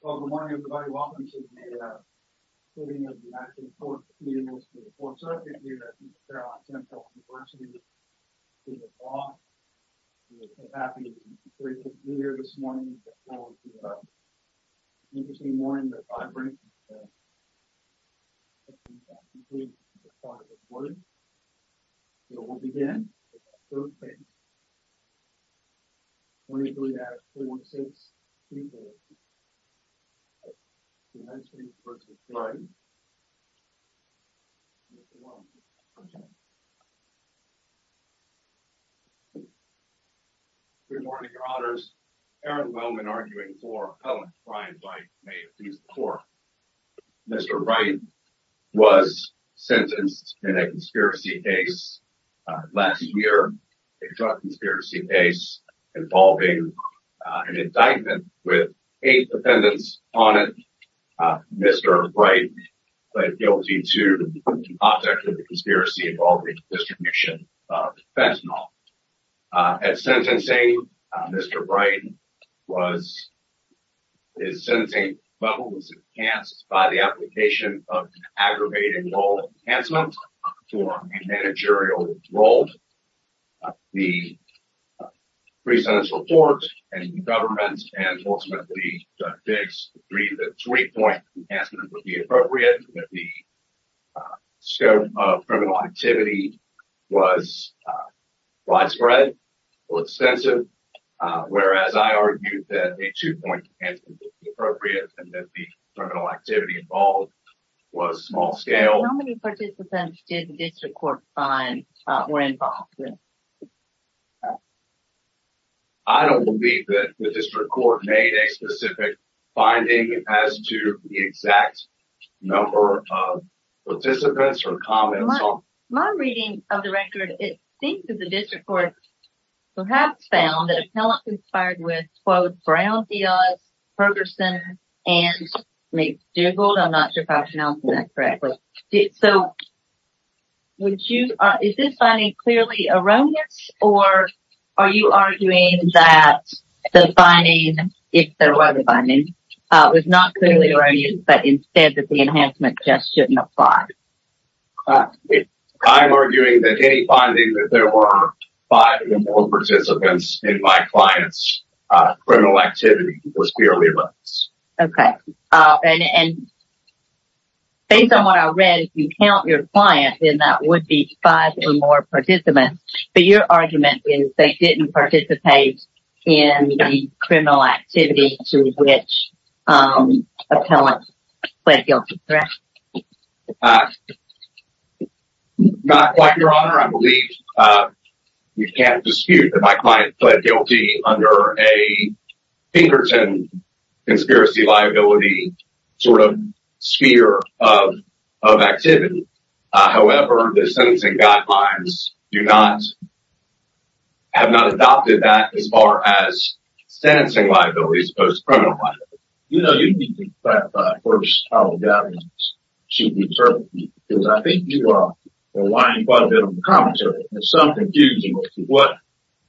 Well, good morning, everybody. Welcome to the hearing of the National Court of Appeals for the 4th Circuit here at Central University in the Bronx. We are so happy to be able to be here this morning with all of you. It's an interesting morning that I bring with me today. I think I've completed the part of the board. We'll begin with our first case. 23-4-6-3-4 United States v. Wright Mr. Wellman Good morning, your honors. Mr. Wright was sentenced in a conspiracy case last year involving an indictment with eight defendants on it. Mr. Wright was guilty to the object of the conspiracy involving distribution of fentanyl. At sentencing, Mr. Wright's sentencing level was enhanced by the application of an aggravated law enhancement for a managerial role. The pre-sentence report and the government and ultimately Judge Biggs agreed that a three-point enhancement would be appropriate and that the scope of criminal activity was widespread or extensive, whereas I argued that a two-point enhancement would be appropriate and that the criminal activity involved was small-scale. How many participants did the district court find were involved? I don't believe that the district court made a specific finding as to the exact number of participants or comments. My reading of the record, it seems that the district court perhaps found that an appellant conspired with, quote, Brownfield, Ferguson, and McDougald. I'm not sure if I pronounced that correctly. Is this finding clearly erroneous or are you arguing that the finding, if there was a finding, was not clearly erroneous but instead that the enhancement just shouldn't apply? I'm arguing that any finding that there were five involved participants in my client's criminal activity was clearly erroneous. Okay. And based on what I read, if you count your client, then that would be five or more participants, but your argument is they didn't participate in the criminal activity to which an appellant pled guilty, correct? Not quite, Your Honor. I believe we can't dispute that my client pled guilty under a Pinkerton conspiracy liability sort of sphere of activity. However, the sentencing guidelines have not adopted that as far as sentencing liability as opposed to criminal liability. You know, you need to clarify first how the guidelines should be interpreted because I think you are relying quite a bit on the commentary. There's some confusion as to what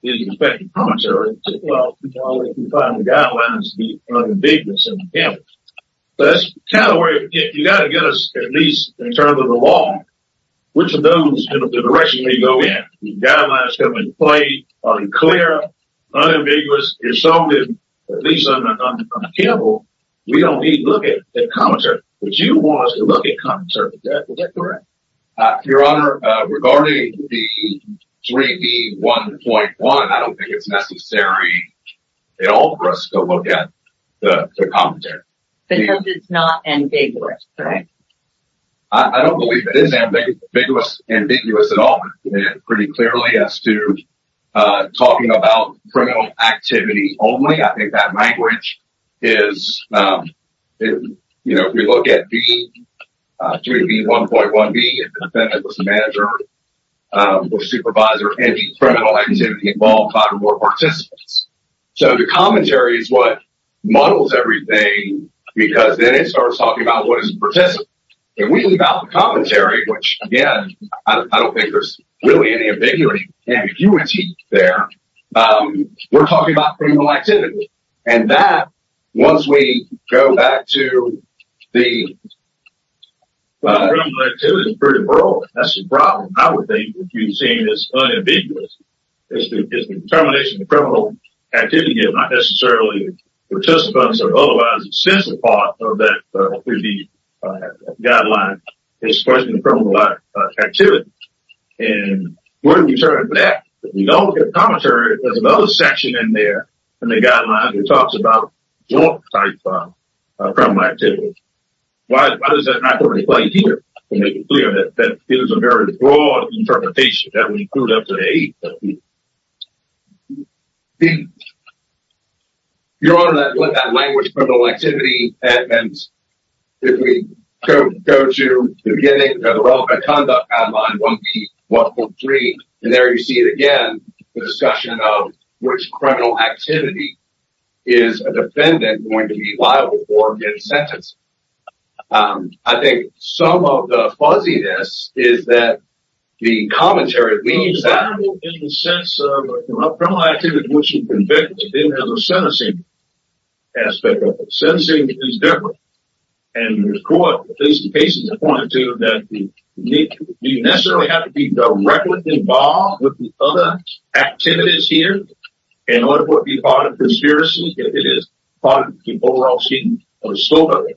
is expected commentary. Well, if you find the guidelines to be unambiguous and unambiguous. So that's kind of where you've got to get us at least in terms of the law, which of those directions may go in. The guidelines have been quite unclear, unambiguous. At least on the table, we don't need to look at the commentary. But you want us to look at commentary. Is that correct? Your Honor, regarding the 3B1.1, I don't think it's necessary at all for us to look at the commentary. Because it's not ambiguous, right? I don't believe it is ambiguous, ambiguous at all. Pretty clearly as to talking about criminal activity only. I think that language is, you know, if we look at the 3B1.1B, if the defendant was a manager or supervisor, any criminal activity involved five or more participants. So the commentary is what models everything, because then it starts talking about what is a participant. If we leave out the commentary, which again, I don't think there's really any ambiguity there, we're talking about criminal activity. And that, once we go back to the... Criminal activity is pretty broad. That's the problem. I would think that you're saying it's unambiguous. It's the determination of criminal activity is not necessarily participants or otherwise a sensible part of that 3B guideline. It's a question of criminal activity. And when we turn it back, if we don't look at the commentary, there's another section in there in the guideline that talks about joint-type criminal activity. Why does that not reflect here? To make it clear that it is a very broad interpretation that we put up today. Your Honor, that language, criminal activity, and if we go to the beginning of the Relative Conduct Guideline 1B1.3, and there you see it again, the discussion of which criminal activity is a defendant going to be liable for in sentencing. I think some of the fuzziness is that the commentary leaves out... In the sense of criminal activity which is convicted as a sentencing aspect of it. Sentencing is different. And the court, at least the cases I pointed to, do you necessarily have to be directly involved with the other activities here? In order for it to be part of conspiracy, if it is part of the overall scheme of the slogan?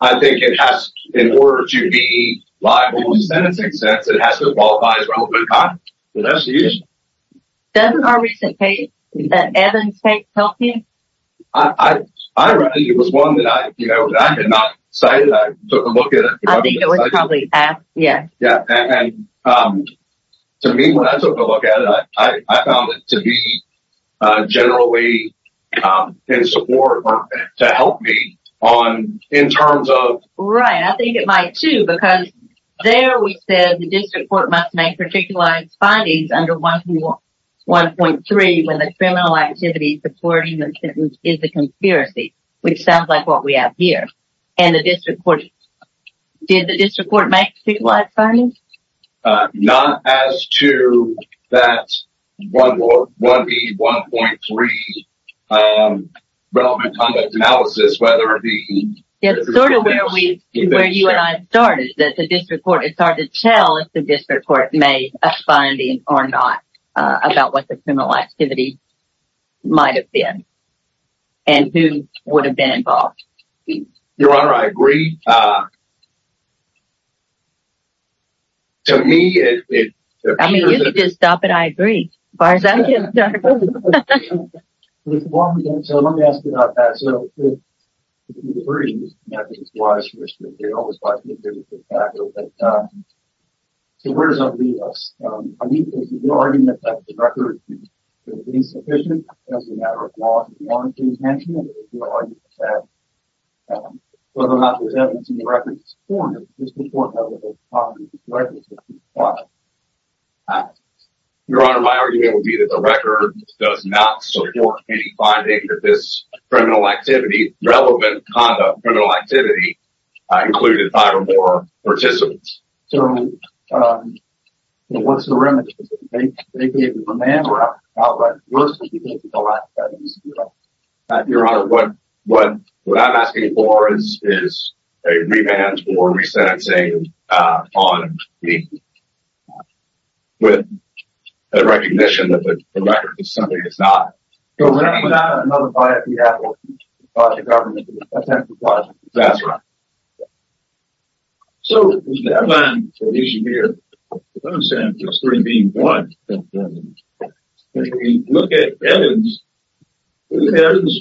I think it has, in order to be liable in sentencing sense, it has to qualify as relevant conduct. That's the issue. Doesn't our recent case, Evan's case, help you? I read it. It was one that I had not cited. I took a look at it. I think it was probably asked. To me, when I took a look at it, I found it to be generally in support or to help me in terms of... Right, I think it might too. Because there we said the district court must make particularized findings under 1B1.3 when the criminal activity supporting the sentence is a conspiracy. Which sounds like what we have here. And the district court... Did the district court make particularized findings? Not as to that 1B1.3 relevant conduct analysis. It's sort of where you and I started. It's hard to tell if the district court made a finding or not about what the criminal activity might have been. And who would have been involved. Your Honor, I agree. I mean, you can just stop it. I agree. As far as I'm concerned. So let me ask you about that. So where does that leave us? I mean, is your argument that the record is insufficient as a matter of law enforcement? Or is your argument that whether or not there's evidence in the record to support it? The district court has a lot of evidence to support it. Your Honor, my argument would be that the record does not support any finding that this criminal activity, relevant conduct, criminal activity, included five or more participants. So what's the remedy? They gave you a remand record, not a record. What's the reason for the lack of evidence? Your Honor, what I'm asking for is a remand or resentencing on me. With the recognition that the record is something that's not... So we're not going to have another via fiat or a government attempt to... That's right. So there's a deadline for this year. As far as I'm concerned, it's 3B1. If we look at evidence, is evidence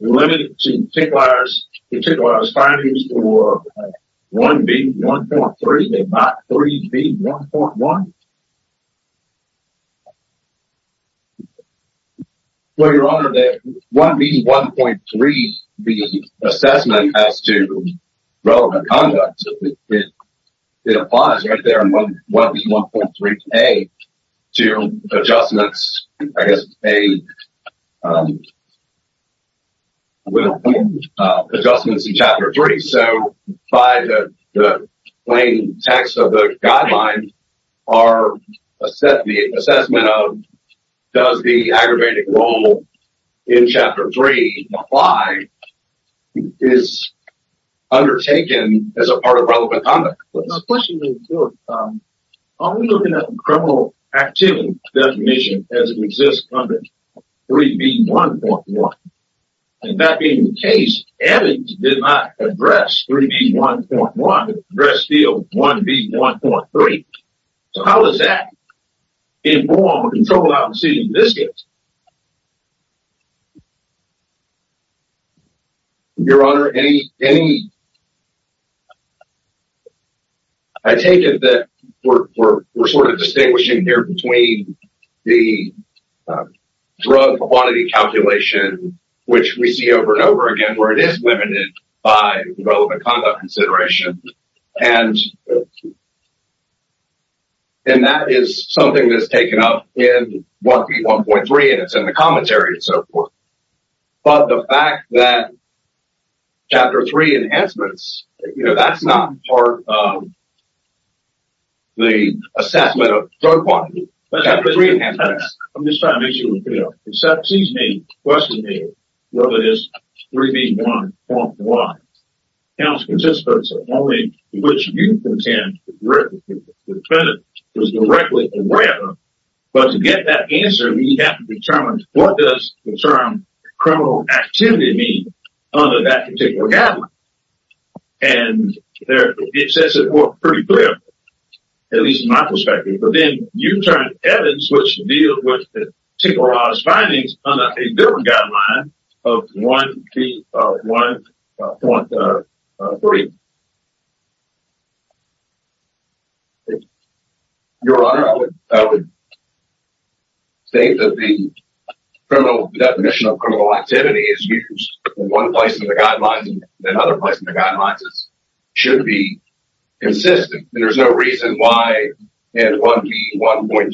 limited to particular findings for 1B1.3 and not 3B1.1? Well, Your Honor, the 1B1.3, the assessment as to relevant conduct, it applies right there in 1B1.3A to adjustments, I guess, in Chapter 3. So by the plain text of the guidelines, the assessment of does the aggravated role in Chapter 3 apply is undertaken as a part of relevant conduct. My question is, Your Honor, are we looking at the criminal activity definition as it exists under 3B1.1? And that being the case, evidence did not address 3B1.1. It addressed the 1B1.3. So how is that informed or controlled out in the seating of this case? Your Honor, I take it that we're sort of distinguishing here between the drug quantity calculation, which we see over and over again, where it is limited by relevant conduct consideration. And that is something that's taken up in 1B1.3 and it's in the commentary and so forth. But the fact that Chapter 3 enhancements, that's not part of the assessment of drug quantity. I'm just trying to make sure we're clear. It seems to me, question me, whether this 3B1.1 counts participants only which you contend the defendant was directly aware of. But to get that answer, we have to determine what does the term criminal activity mean under that particular guideline. And it says it pretty clear, at least in my perspective. But then you turn to evidence which deals with the Tinker House findings under a different guideline of 1B1.3. Your Honor, I would state that the criminal definition of criminal activity is used in one place in the guidelines and in other places in the guidelines. It should be consistent. There's no reason why in 1B1.3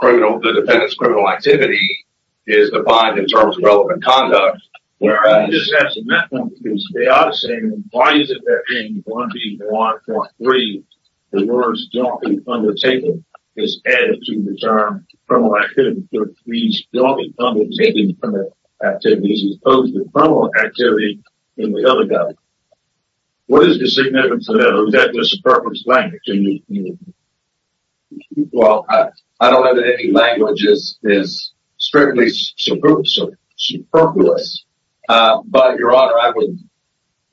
the defendant's criminal activity is defined in terms of relevant conduct. Your Honor, I'm just asking that one because they are saying why is it that in 1B1.3 the words don't be undertaken is added to the term criminal activity. So it reads don't be undertaken activities as opposed to criminal activity in the other guidelines. What is the significance of that? Or is that just a purposeful language? Well, I don't know that any language is strictly superfluous. But, Your Honor,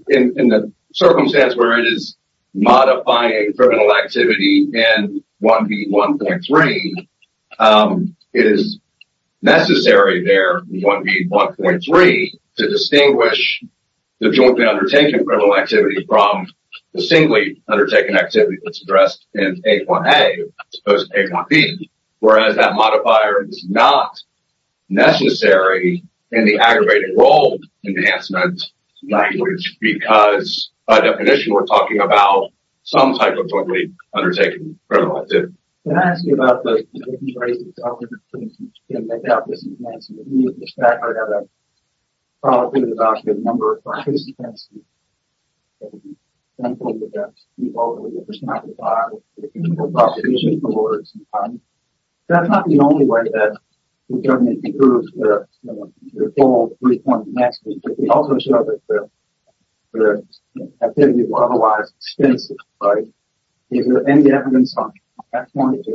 in the circumstance where it is modifying criminal activity in 1B1.3, it is necessary there in 1B1.3 to distinguish the jointly undertaken criminal activity from the singly undertaken activity that's addressed in A1A as opposed to A1B. Whereas that modifier is not necessary in the aggravated role enhancement language because by definition we're talking about some type of jointly undertaken criminal activity. Can I ask you about the different ways in which you can make out the significance? In fact, I have a follow-up question about the number of participants.... That's not the only way that we can prove the whole three-point message, but we also show that the activity is otherwise extensive. Is there any evidence on that point?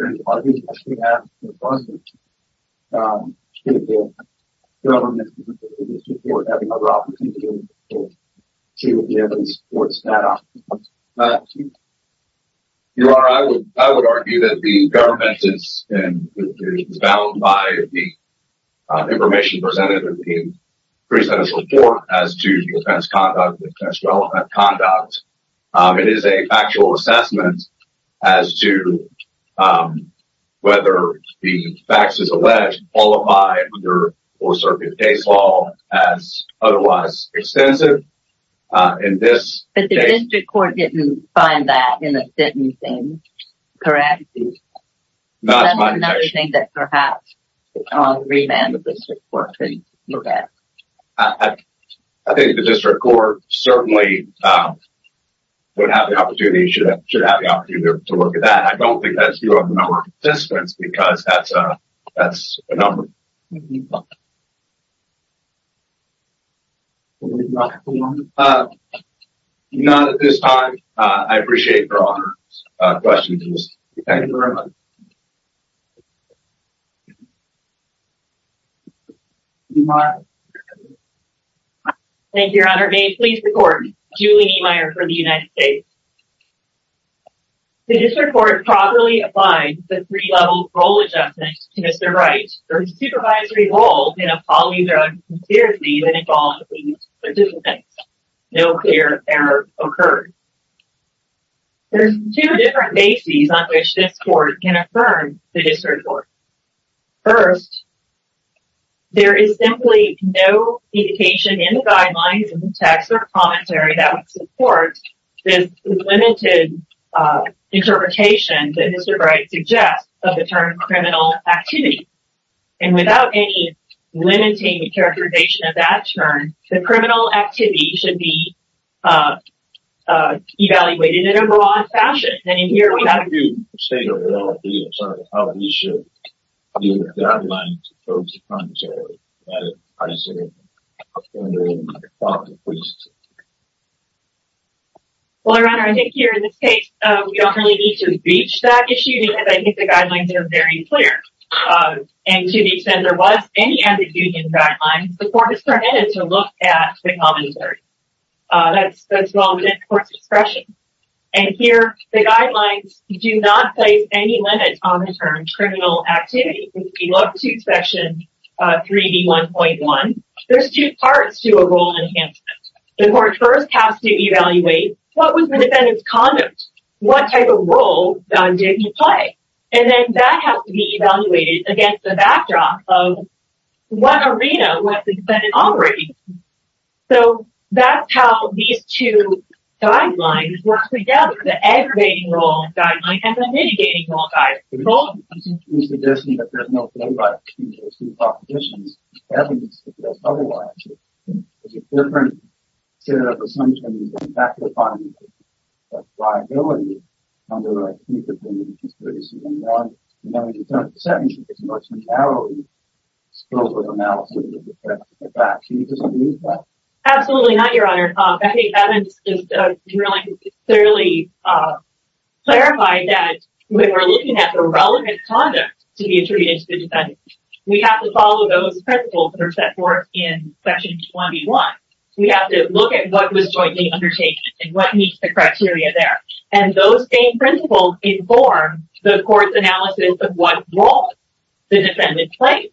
Your Honor, I would argue that the government is bound by the information presented in the pre-sentence report as to the offense conduct, the offense-relevant conduct. It is a factual assessment as to whether the facts as alleged qualify under Fourth Circuit case law as otherwise extensive. But the district court didn't find that in the sentencing, correct? Not to my detection. That's another thing that perhaps the remand of the district court could look at. I think the district court certainly should have the opportunity to look at that. I don't think that's due to the number of participants because that's a number. None at this time. I appreciate your questions. Thank you very much. Thank you, Your Honor. May it please the court, Julie Niemeyer for the United States. There's two different bases on which this court can affirm the district court. First, there is simply no indication in the guidelines, in the text or commentary that would support this limited interpretation that Mr. Bright suggests of the term criminal activity. And without any limiting characterization of that term, the criminal activity should be evaluated in a broad fashion. How do you state a reality of how we should view the guidelines in terms of commentary? As I said, I was wondering if you could talk to the police. The guidelines do not place any limits on the term criminal activity. If you look to section 3B1.1, there's two parts to a role enhancement. The court first has to evaluate what was the defendant's conduct? What type of role did he play? And then that has to be evaluated against the backdrop of what arena was the defendant operating? So, that's how these two guidelines work together. The aggravating role guideline and the mitigating role guideline. Absolutely not, Your Honor. Becky Evans clearly clarified that when we're looking at the relevant conduct to be attributed to the defendant, we have to follow those principles that are set forth in section 21. We have to look at what was jointly undertaken and what meets the criteria there. And those same principles inform the court's analysis of what role the defendant played.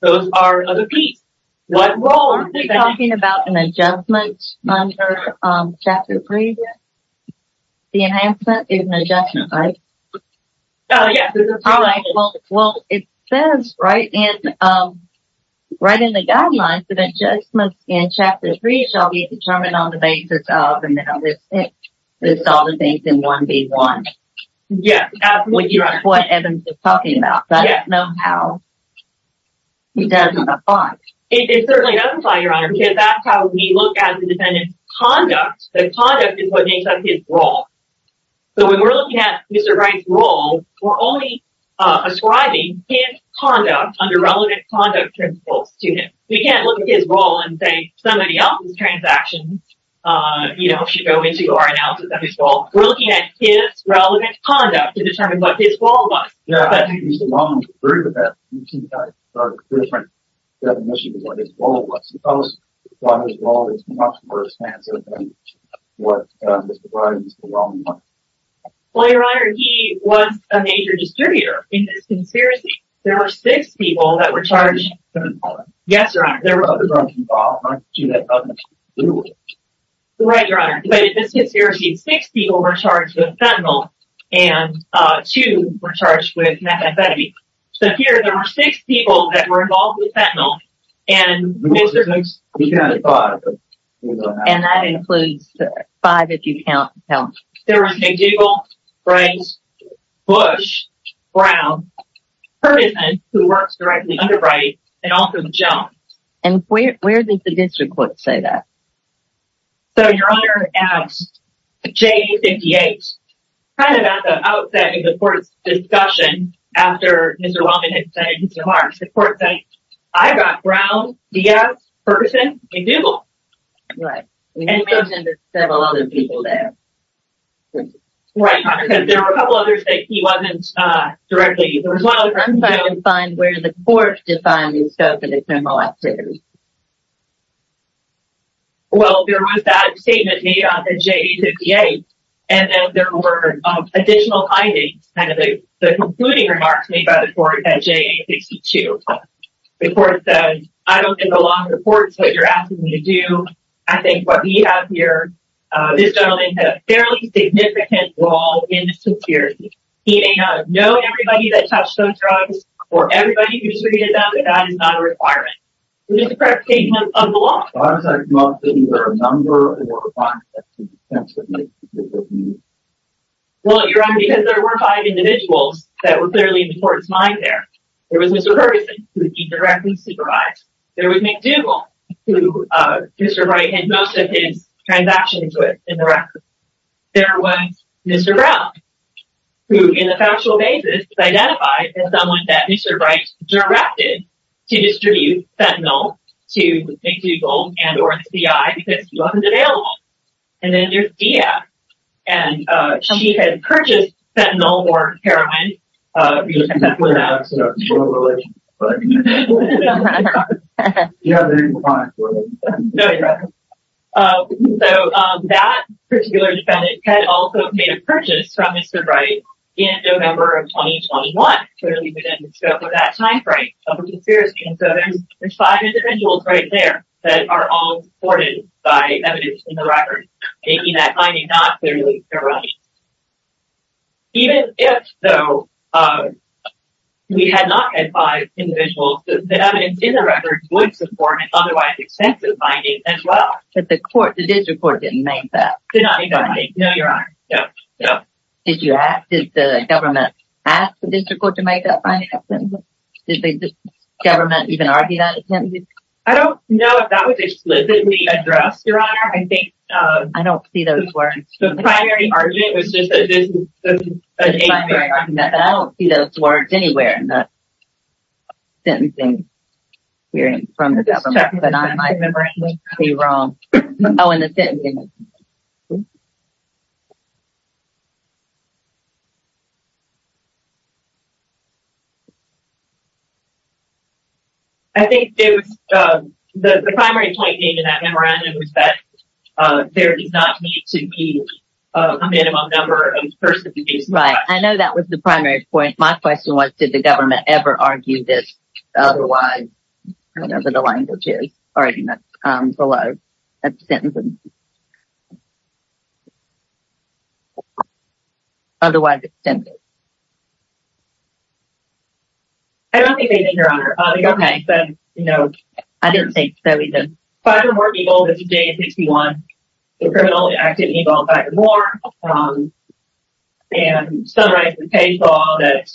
Those are other pieces. What role? Are we talking about an adjustment under Chapter 3? Yes. The enhancement is an adjustment, right? Yes. All right. Well, it says right in the guidelines that adjustments in Chapter 3 shall be determined on the basis of analysis. It's all the things in 1B1. Yes, absolutely. Which is what Evans was talking about. It doesn't apply. It certainly doesn't apply, Your Honor, because that's how we look at the defendant's conduct. The conduct is what makes up his role. So, when we're looking at Mr. Wright's role, we're only ascribing his conduct under relevant conduct principles to him. We can't look at his role and say somebody else's transaction should go into our analysis of his role. We're looking at his relevant conduct to determine what his role was. Yeah, I think he's the wrong group of people. You can't start a different definition of what his role was. Because his role is much more expansive than what Mr. Wright is the wrong one. Well, Your Honor, he was a major distributor in this conspiracy. There were six people that were charged... With fentanyl. Yes, Your Honor. There were other drugs involved, aren't you? That doesn't exclude it. Right, Your Honor. But in this conspiracy, six people were charged with fentanyl and two were charged with methamphetamine. So, here, there were six people that were involved with fentanyl. And Mr. Wright... And that includes five if you count... There was McDougal, Wright, Bush, Brown, Ferguson, who works directly under Wright, and also Jones. And where did the district courts say that? So, Your Honor, at J58, kind of at the outset of the court's discussion, after Mr. Wellman had said Mr. Marks, the court said, I've got Brown, Diaz, Ferguson, and McDougal. Right. And you mentioned there's several other people there. Right. There were a couple others that he wasn't directly... I'm trying to find where the court defined the scope of the criminal activity. Well, there was that statement made at J58. And then there were additional findings, kind of the concluding remarks made by the court at J62. The court said, I don't think the law supports what you're asking me to do. I think what we have here, this gentleman had a fairly significant role in the conspiracy. He may know everybody that touched those drugs, or everybody who distributed them, but that is not a requirement. It was a correct statement of the law. Why was there not either a number or a quantity? Well, Your Honor, because there were five individuals that were clearly in the court's mind there. There was Mr. Ferguson, who he directly supervised. There was McDougal, who Mr. Wright had most of his transactions with in the record. There was Mr. Brown, who in a factual basis was identified as someone that Mr. Wright directed to distribute fentanyl to McDougal and or the CI because he wasn't available. And then there's Diaz. And she had purchased fentanyl or heroin. Do you have the name of the client for me? No, Your Honor. So that particular defendant had also made a purchase from Mr. Wright in November of 2021. Clearly within the scope of that time frame of the conspiracy. And so there's five individuals right there that are all supported by evidence in the record. Making that finding not clearly their own. Even if, though, we had not had five individuals, the evidence in the record would support an otherwise extensive finding as well. But the court, the district court didn't make that finding. No, Your Honor. No. Did you ask, did the government ask the district court to make that finding? Did the government even argue that attempt? I don't know if that was explicitly addressed, Your Honor. I don't see those words. The primary argument was just that this is a. The primary argument, but I don't see those words anywhere in that sentencing hearing from the government. But I might be wrong. Oh, in the sentencing. I think it was the primary point in that memorandum was that there does not need to be a minimum number of persons. Right. I know that was the primary point. My question was, did the government ever argue this? I don't know what the language is. Below that sentence. Otherwise extensive. I don't think they did, Your Honor. Okay. No. I didn't think so either. Five or more people that's a day in 61. They're criminally active and involve five or more. And some rights and pay fall that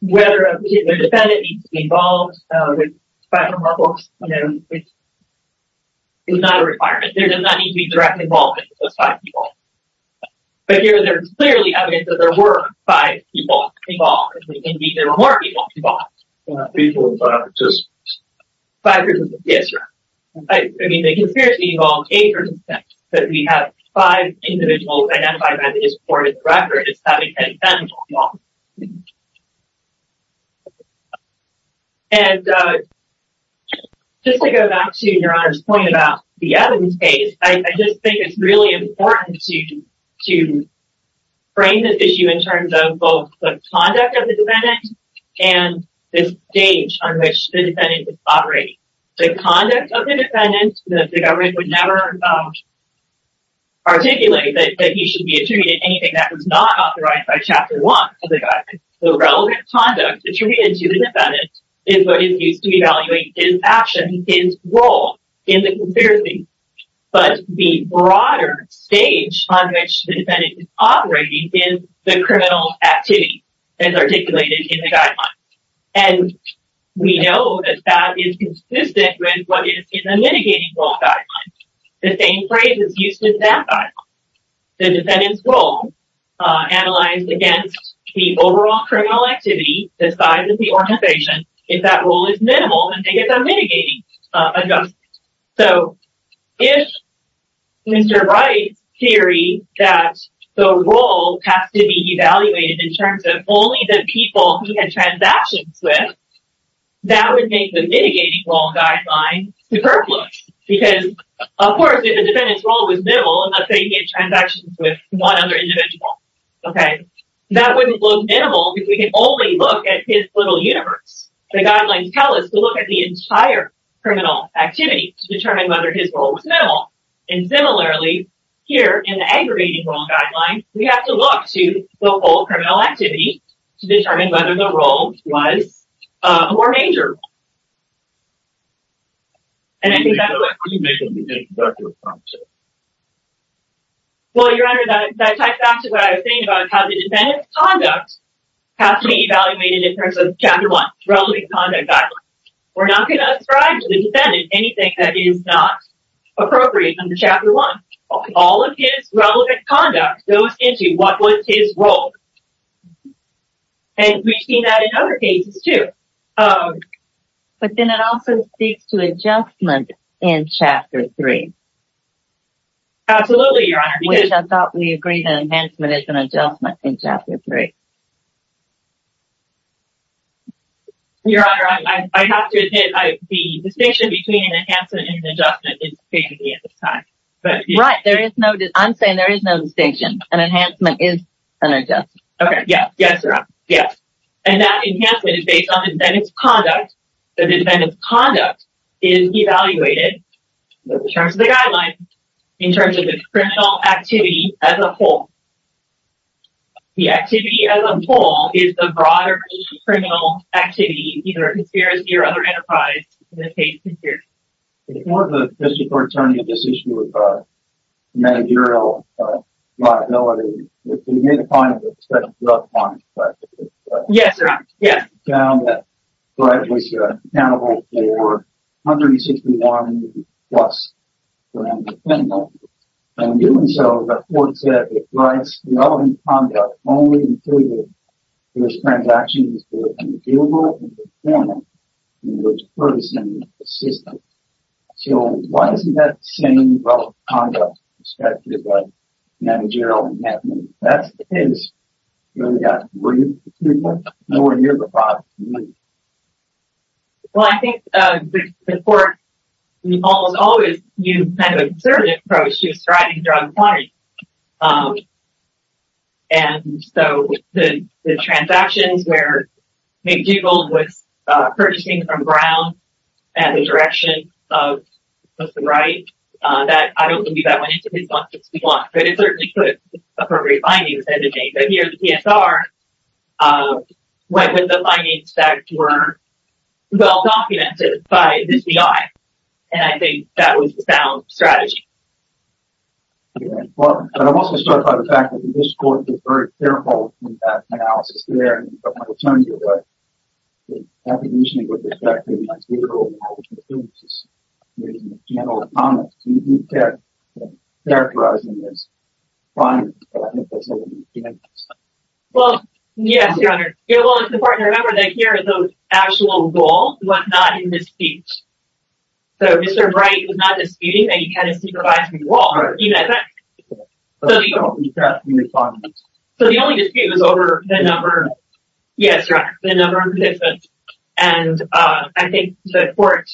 whether a particular defendant needs to be involved with five or more books. It's not a requirement. There does not need to be direct involvement with those five people. But here there's clearly evidence that there were five people involved. Indeed, there were more people involved. Five people involved. Five people involved. Yes, Your Honor. I mean, they considered to be involved eight or six. But we have five individuals identified by the district court in the record as having been involved. And just to go back to Your Honor's point about the evidence case, I just think it's really important to frame this issue in terms of both the conduct of the defendant and this stage on which the defendant is operating. The conduct of the defendant, the government would never articulate that he should be attributed anything that was not authorized by Chapter 1 of the Guidelines. The relevant conduct attributed to the defendant is what is used to evaluate his action, his role in the conspiracy. But the broader stage on which the defendant is operating is the criminal activity as articulated in the Guidelines. And we know that that is consistent with what is in the Mitigating Rule Guidelines. The same phrase is used in that guideline. The defendant's role analyzed against the overall criminal activity, the size of the organization. If that role is minimal, then they get the Mitigating Adjustment. So, if Mr. Wright's theory that the role has to be evaluated in terms of only the people he had transactions with, that would make the Mitigating Rule Guidelines superfluous. Because, of course, if the defendant's role was minimal, let's say he had transactions with one other individual, okay, that wouldn't look minimal because we can only look at his little universe. The Guidelines tell us to look at the entire criminal activity to determine whether his role was minimal. And, similarly, here in the Aggravating Rule Guidelines, we have to look to the whole criminal activity to determine whether the role was more major. And I think that's... Well, Your Honor, that ties back to what I was saying about how the defendant's conduct has to be evaluated in terms of Chapter 1, Relevant Conduct Guidelines. We're not going to ascribe to the defendant anything that is not appropriate under Chapter 1. All of his relevant conduct goes into what was his role. And we've seen that in other cases, too. But then it also speaks to Adjustment in Chapter 3. Absolutely, Your Honor. Which I thought we agreed that Enhancement is an Adjustment in Chapter 3. Your Honor, I have to admit, the distinction between an Enhancement and an Adjustment is crazy at this time. Right, I'm saying there is no distinction. An Enhancement is an Adjustment. Okay, yes, Your Honor. Yes. And that Enhancement is based on the defendant's conduct. The defendant's conduct is evaluated in terms of the Guidelines, in terms of the criminal activity as a whole. The activity as a whole is the broader criminal activity, either a conspiracy or other enterprise in the case of conspiracy. Before the District Court turned to this issue of managerial liability, we made a point of expecting drug fines. Yes, Your Honor. Yes. We found that the crime was accountable for $161,000 plus for an offender. In doing so, the court said that the crime's relevant conduct only included those transactions that were unfeasible and informal in the person or system. So, why isn't that the same relevant conduct expected by managerial enhancement? If that's the case, then we've got three people nowhere near the five million. Well, I think the court almost always used kind of a conservative approach to ascribing drug fines. And so, the transactions where McDougal was purchasing from Brown and the direction of the right, I don't believe that went into the substance we want. But it certainly could appropriate findings. But here, the PSR went with the findings that were well-documented by the FBI. And I think that was the sound strategy. I'm also struck by the fact that the District Court was very careful in that analysis there. But I'll tell you what. The definition of what was expected was that McDougal was making a general comment. So, he kept characterizing his findings. But I think that's only the beginning of the story. Well, yes, Your Honor. Yeah, well, it's important to remember that here are those actual goals, but not in his speech. So, Mr. Bright was not disputing that he had a supervisory role. So, the only dispute was over the number of participants. Yes, Your Honor. The number of participants. And I think the court,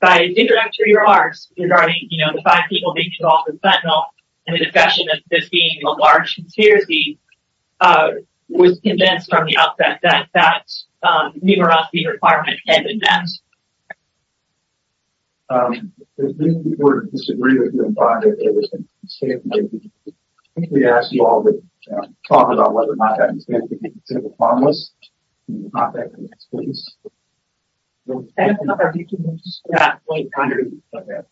by its introductory remarks regarding the five people being involved in fentanyl and the discussion of this being a large conspiracy, was convinced from the outset that that numerosity requirement had been met. If we were to disagree with you on five of your statements, I think we'd ask you all to talk about whether or not you stand to be considered harmless in the context of this case. The number of participants is not quite accurate.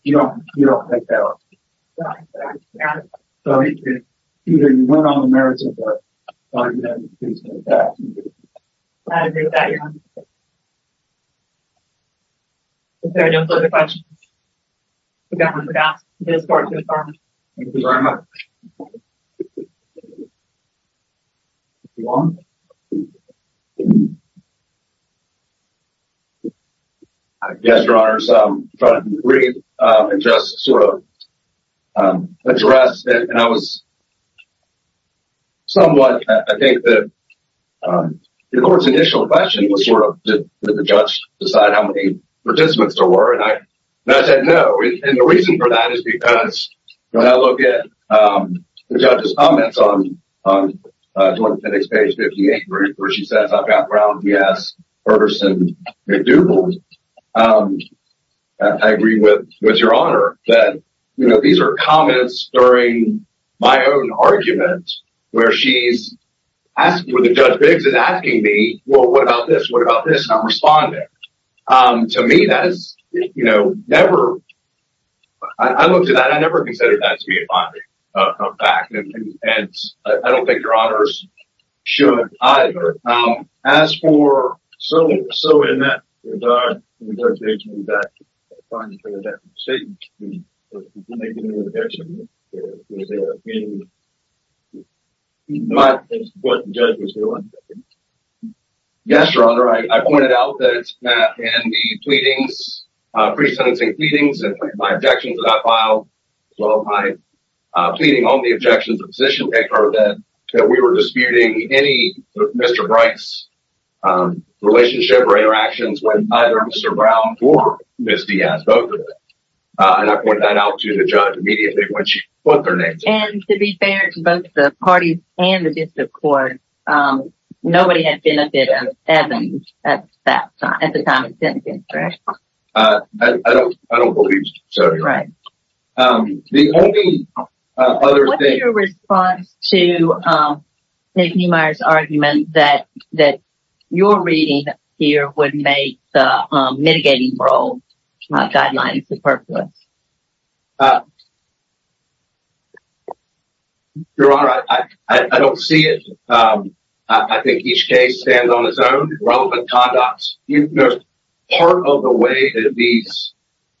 You don't make that up? No, Your Honor. So, either you went on the merits of it, or you didn't. I agree with that, Your Honor. If there are no further questions, the government would ask this court to adjourn. Thank you very much. Yes, Your Honor. I just sort of addressed, and I was somewhat, I think the court's initial question was sort of, did the judge decide how many participants there were? And I said, no. And the reason for that is because when I look at the judge's comments on Joint Appendix page 58, where she says, I've got Brown, Diaz, Ferguson, McDougald. I agree with Your Honor that, you know, these are comments during my own argument, where she's asking, where the judge begs and asking me, well, what about this? What about this? And I'm responding. To me, that is, you know, never, I looked at that. I never considered that to be a fact. And I don't think Your Honors should either. As for, so in that regard, the judge may turn it back to you. Yes, Your Honor, I pointed out that in the pleadings, pre-sentencing pleadings, my objections that I filed, pleading on the objections of position picker, that we were disputing any Mr. Bright's relationship or interactions with either Mr. Brown or Ms. Diaz, both of them. And I pointed that out to the judge immediately when she put their names up. And to be fair to both the parties and the district court, nobody had been a bit of evidence at that time, at the time of sentencing, correct? I don't believe so, Your Honor. Right. The only other thing. What is your response to Nick Neumeier's argument that your reading here would make the mitigating role guidelines superfluous? Your Honor, I don't see it. I think each case stands on its own relevant conducts. Part of the way that these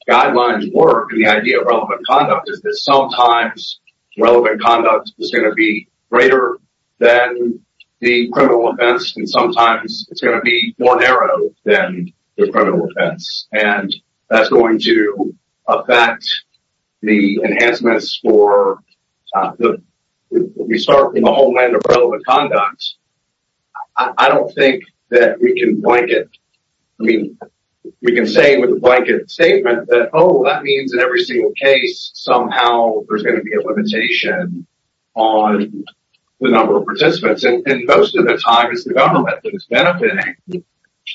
guidelines work and the idea of relevant conduct is that sometimes relevant conduct is going to be greater than the criminal offense. And sometimes it's going to be more narrow than the criminal offense. And that's going to affect the enhancements for the, we start from the homeland of relevant conduct. I don't think that we can say with a blanket statement that, oh, that means in every single case somehow there's going to be a limitation on the number of participants. And most of the time it's the government that is benefiting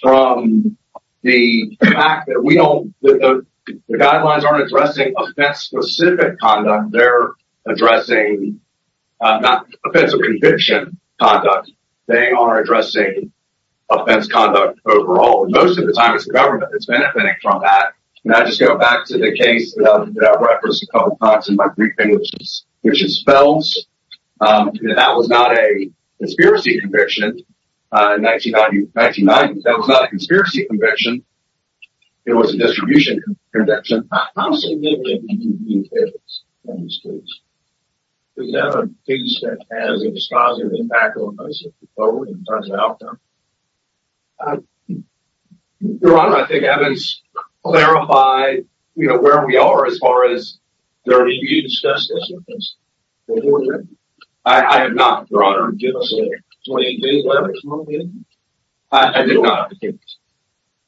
from the fact that the guidelines aren't addressing offense specific conduct. They're addressing not offensive conviction conduct. They are addressing offense conduct overall. And most of the time it's the government that's benefiting from that. And I just go back to the case that I referenced a couple of times in my briefing, which is Phelps. That was not a conspiracy conviction in 1990. That was not a conspiracy conviction. It was a distribution conviction. How significant do you view Phelps in this case? Is that a case that has a dispositive impact on us in terms of outcome? Your Honor, I think Evans clarified where we are as far as their views. I have not, Your Honor. Give us a 20 day limit. I did not.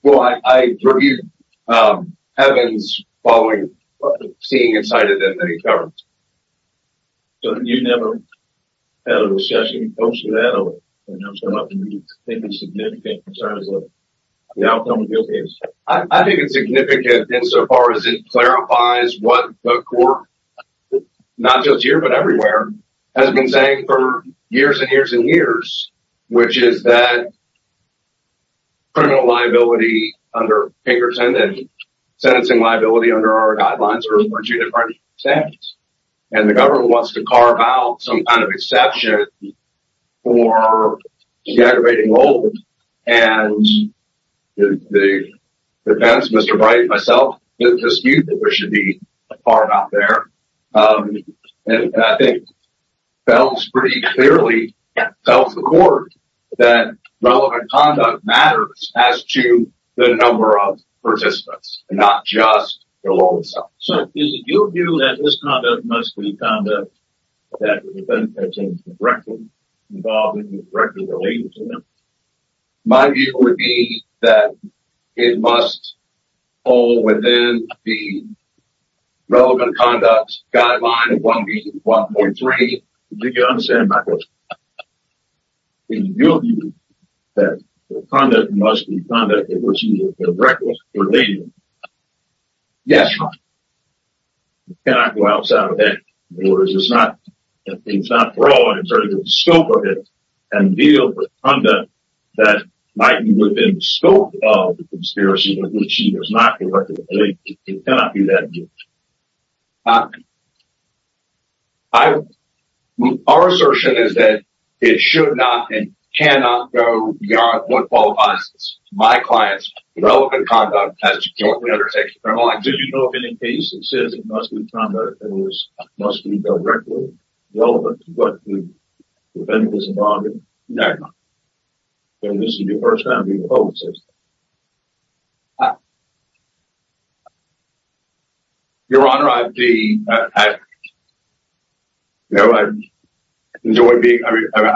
Well, I reviewed Evans following seeing inside of them that he covered. I think it's significant insofar as it clarifies what the court, not just here but everywhere, has been saying for years and years and years. Which is that criminal liability under Pinkerton and sentencing liability under our guidelines are two different things. And the government wants to carve out some kind of exception for the aggravating load. And the defense, Mr. Bright and myself, dispute that there should be a part out there. And I think Phelps pretty clearly tells the court that relevant conduct matters as to the number of participants. Not just the law itself. So is it your view that this conduct must be conduct that is directly involved and directly related to them? My view would be that it must fall within the relevant conduct guideline of 1B.1.3. Do you understand my question? Is it your view that the conduct must be conduct that is directly related to them? Yes, Your Honor. It cannot go outside of that. It's not broad in terms of the scope of it. And deal with conduct that might be within the scope of the conspiracy but which is not directly related. It cannot be that. Our assertion is that it should not and cannot go beyond what qualifies as my client's relevant conduct as to jointly undertaking a criminal act. Did you know of any case that says it must be conduct that must be directly relevant to what the defendant is involved in? No, Your Honor. And this is the first time we've heard such a thing. Your Honor, I'd be... I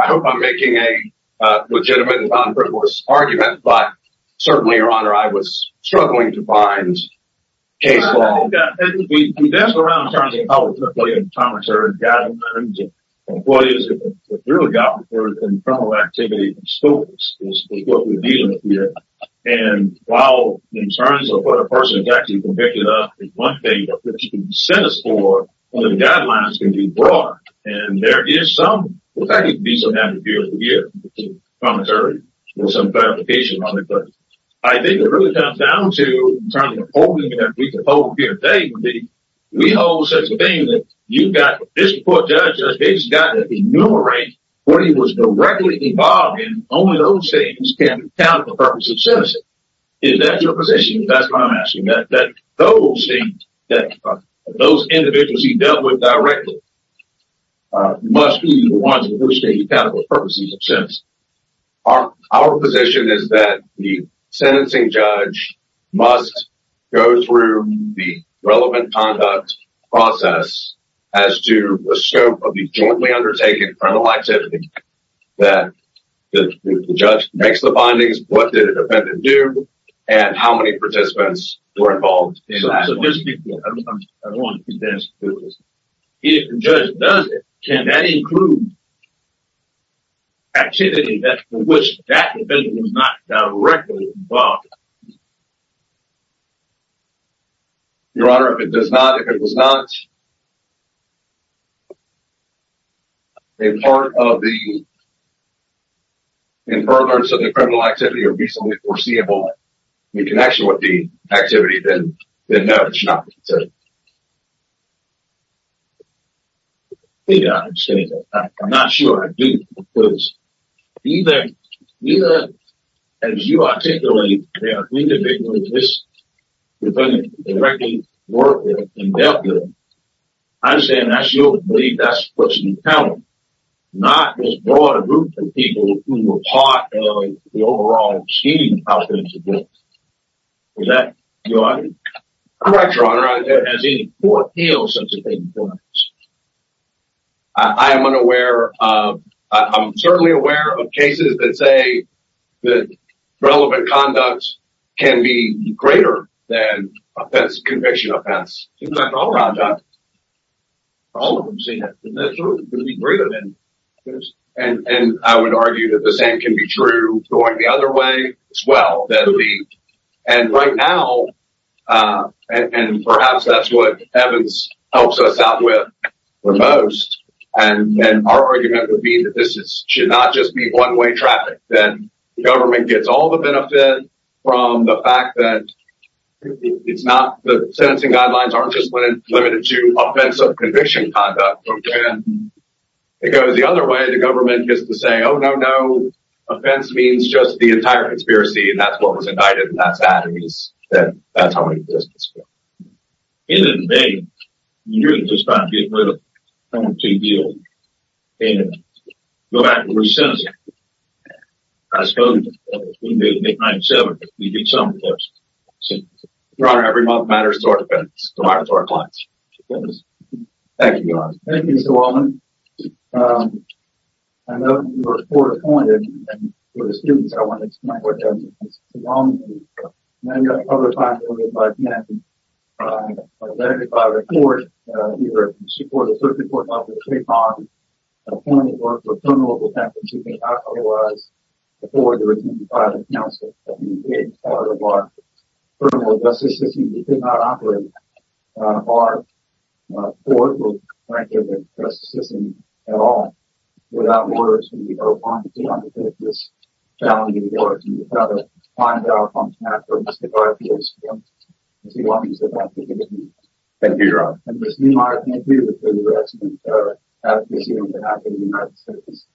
hope I'm making a legitimate and non-frivolous argument. But certainly, Your Honor, I was struggling to find case law. We've asked around in terms of how it's going to play in the commentary guidelines. And what is it that we've really got in terms of criminal activity and scope is what we're dealing with here. And while in terms of what a person is actually convicted of, there's one thing that you can send us for and the guidelines can be broader. And there is some... I think it really comes down to... We hold such a thing that you've got... This court judge has basically got to enumerate what he was directly involved in. Only those things can count for the purpose of sentencing. Is that your position? That's what I'm asking. That those things, those individuals he dealt with directly, must be the ones for which they can count for purposes of sentencing. Our position is that the sentencing judge must go through the relevant conduct process as to the scope of the jointly undertaken criminal activity. That the judge makes the findings, what did the defendant do, and how many participants were involved in that. I just want to ask you this. If the judge does it, can that include activity for which that defendant was not directly involved? Your Honor, if it does not, if it was not a part of the... In furtherance of the criminal activity or reasonably foreseeable, in connection with the activity, then no, it should not be considered. Maybe I'm saying that. I'm not sure. I do. Because neither, as you articulate, there are three individuals this defendant directly worked with and dealt with. I'm saying that's your belief, that's what you count on. Not this broad group of people who were part of the overall scheme of how things were done. Is that your argument? Correct, Your Honor. Has any court held such a thing for us? I am unaware of... I'm certainly aware of cases that say that relevant conduct can be greater than conviction offense. Seems like all of them. All of them seem to be greater than... And I would argue that the same can be true going the other way as well. And right now, and perhaps that's what Evans helps us out with the most, and our argument would be that this should not just be one-way traffic. That the government gets all the benefit from the fact that it's not... The sentencing guidelines aren't just limited to offense of conviction conduct. It goes the other way, the government gets to say, Oh, no, no, offense means just the entire conspiracy, and that's what was indicted, and that's that. And that's how it is. In the debate, you're just about to get rid of someone who's too guilty. Go back to the sentencing. I suppose, we did it in 897, we did some of those sentences. Your Honor, every month matters to our defense, to our clients. Thank you, Your Honor. Thank you, Mr. Wallman. I know you were fore-appointed, and for the students, I want to explain what that means. Mr. Wallman, you've been publicly appointed by the Penitentiary. You've been elected by the court. You've been appointed by the Circuit Court, by the Supreme Court. You've been appointed for a criminal offense that you could not otherwise afford to receive by the counsel. You've been part of our criminal justice system. You could not operate our court or, frankly, the justice system at all. Without words, we are wanting to undertake this challenging work. And you've got to find out on behalf of Mr. Barclay's team, as he wanted to do that for you. Thank you, Your Honor. And Ms. Neumeyer, thank you for your excellent advocacy on behalf of the United States.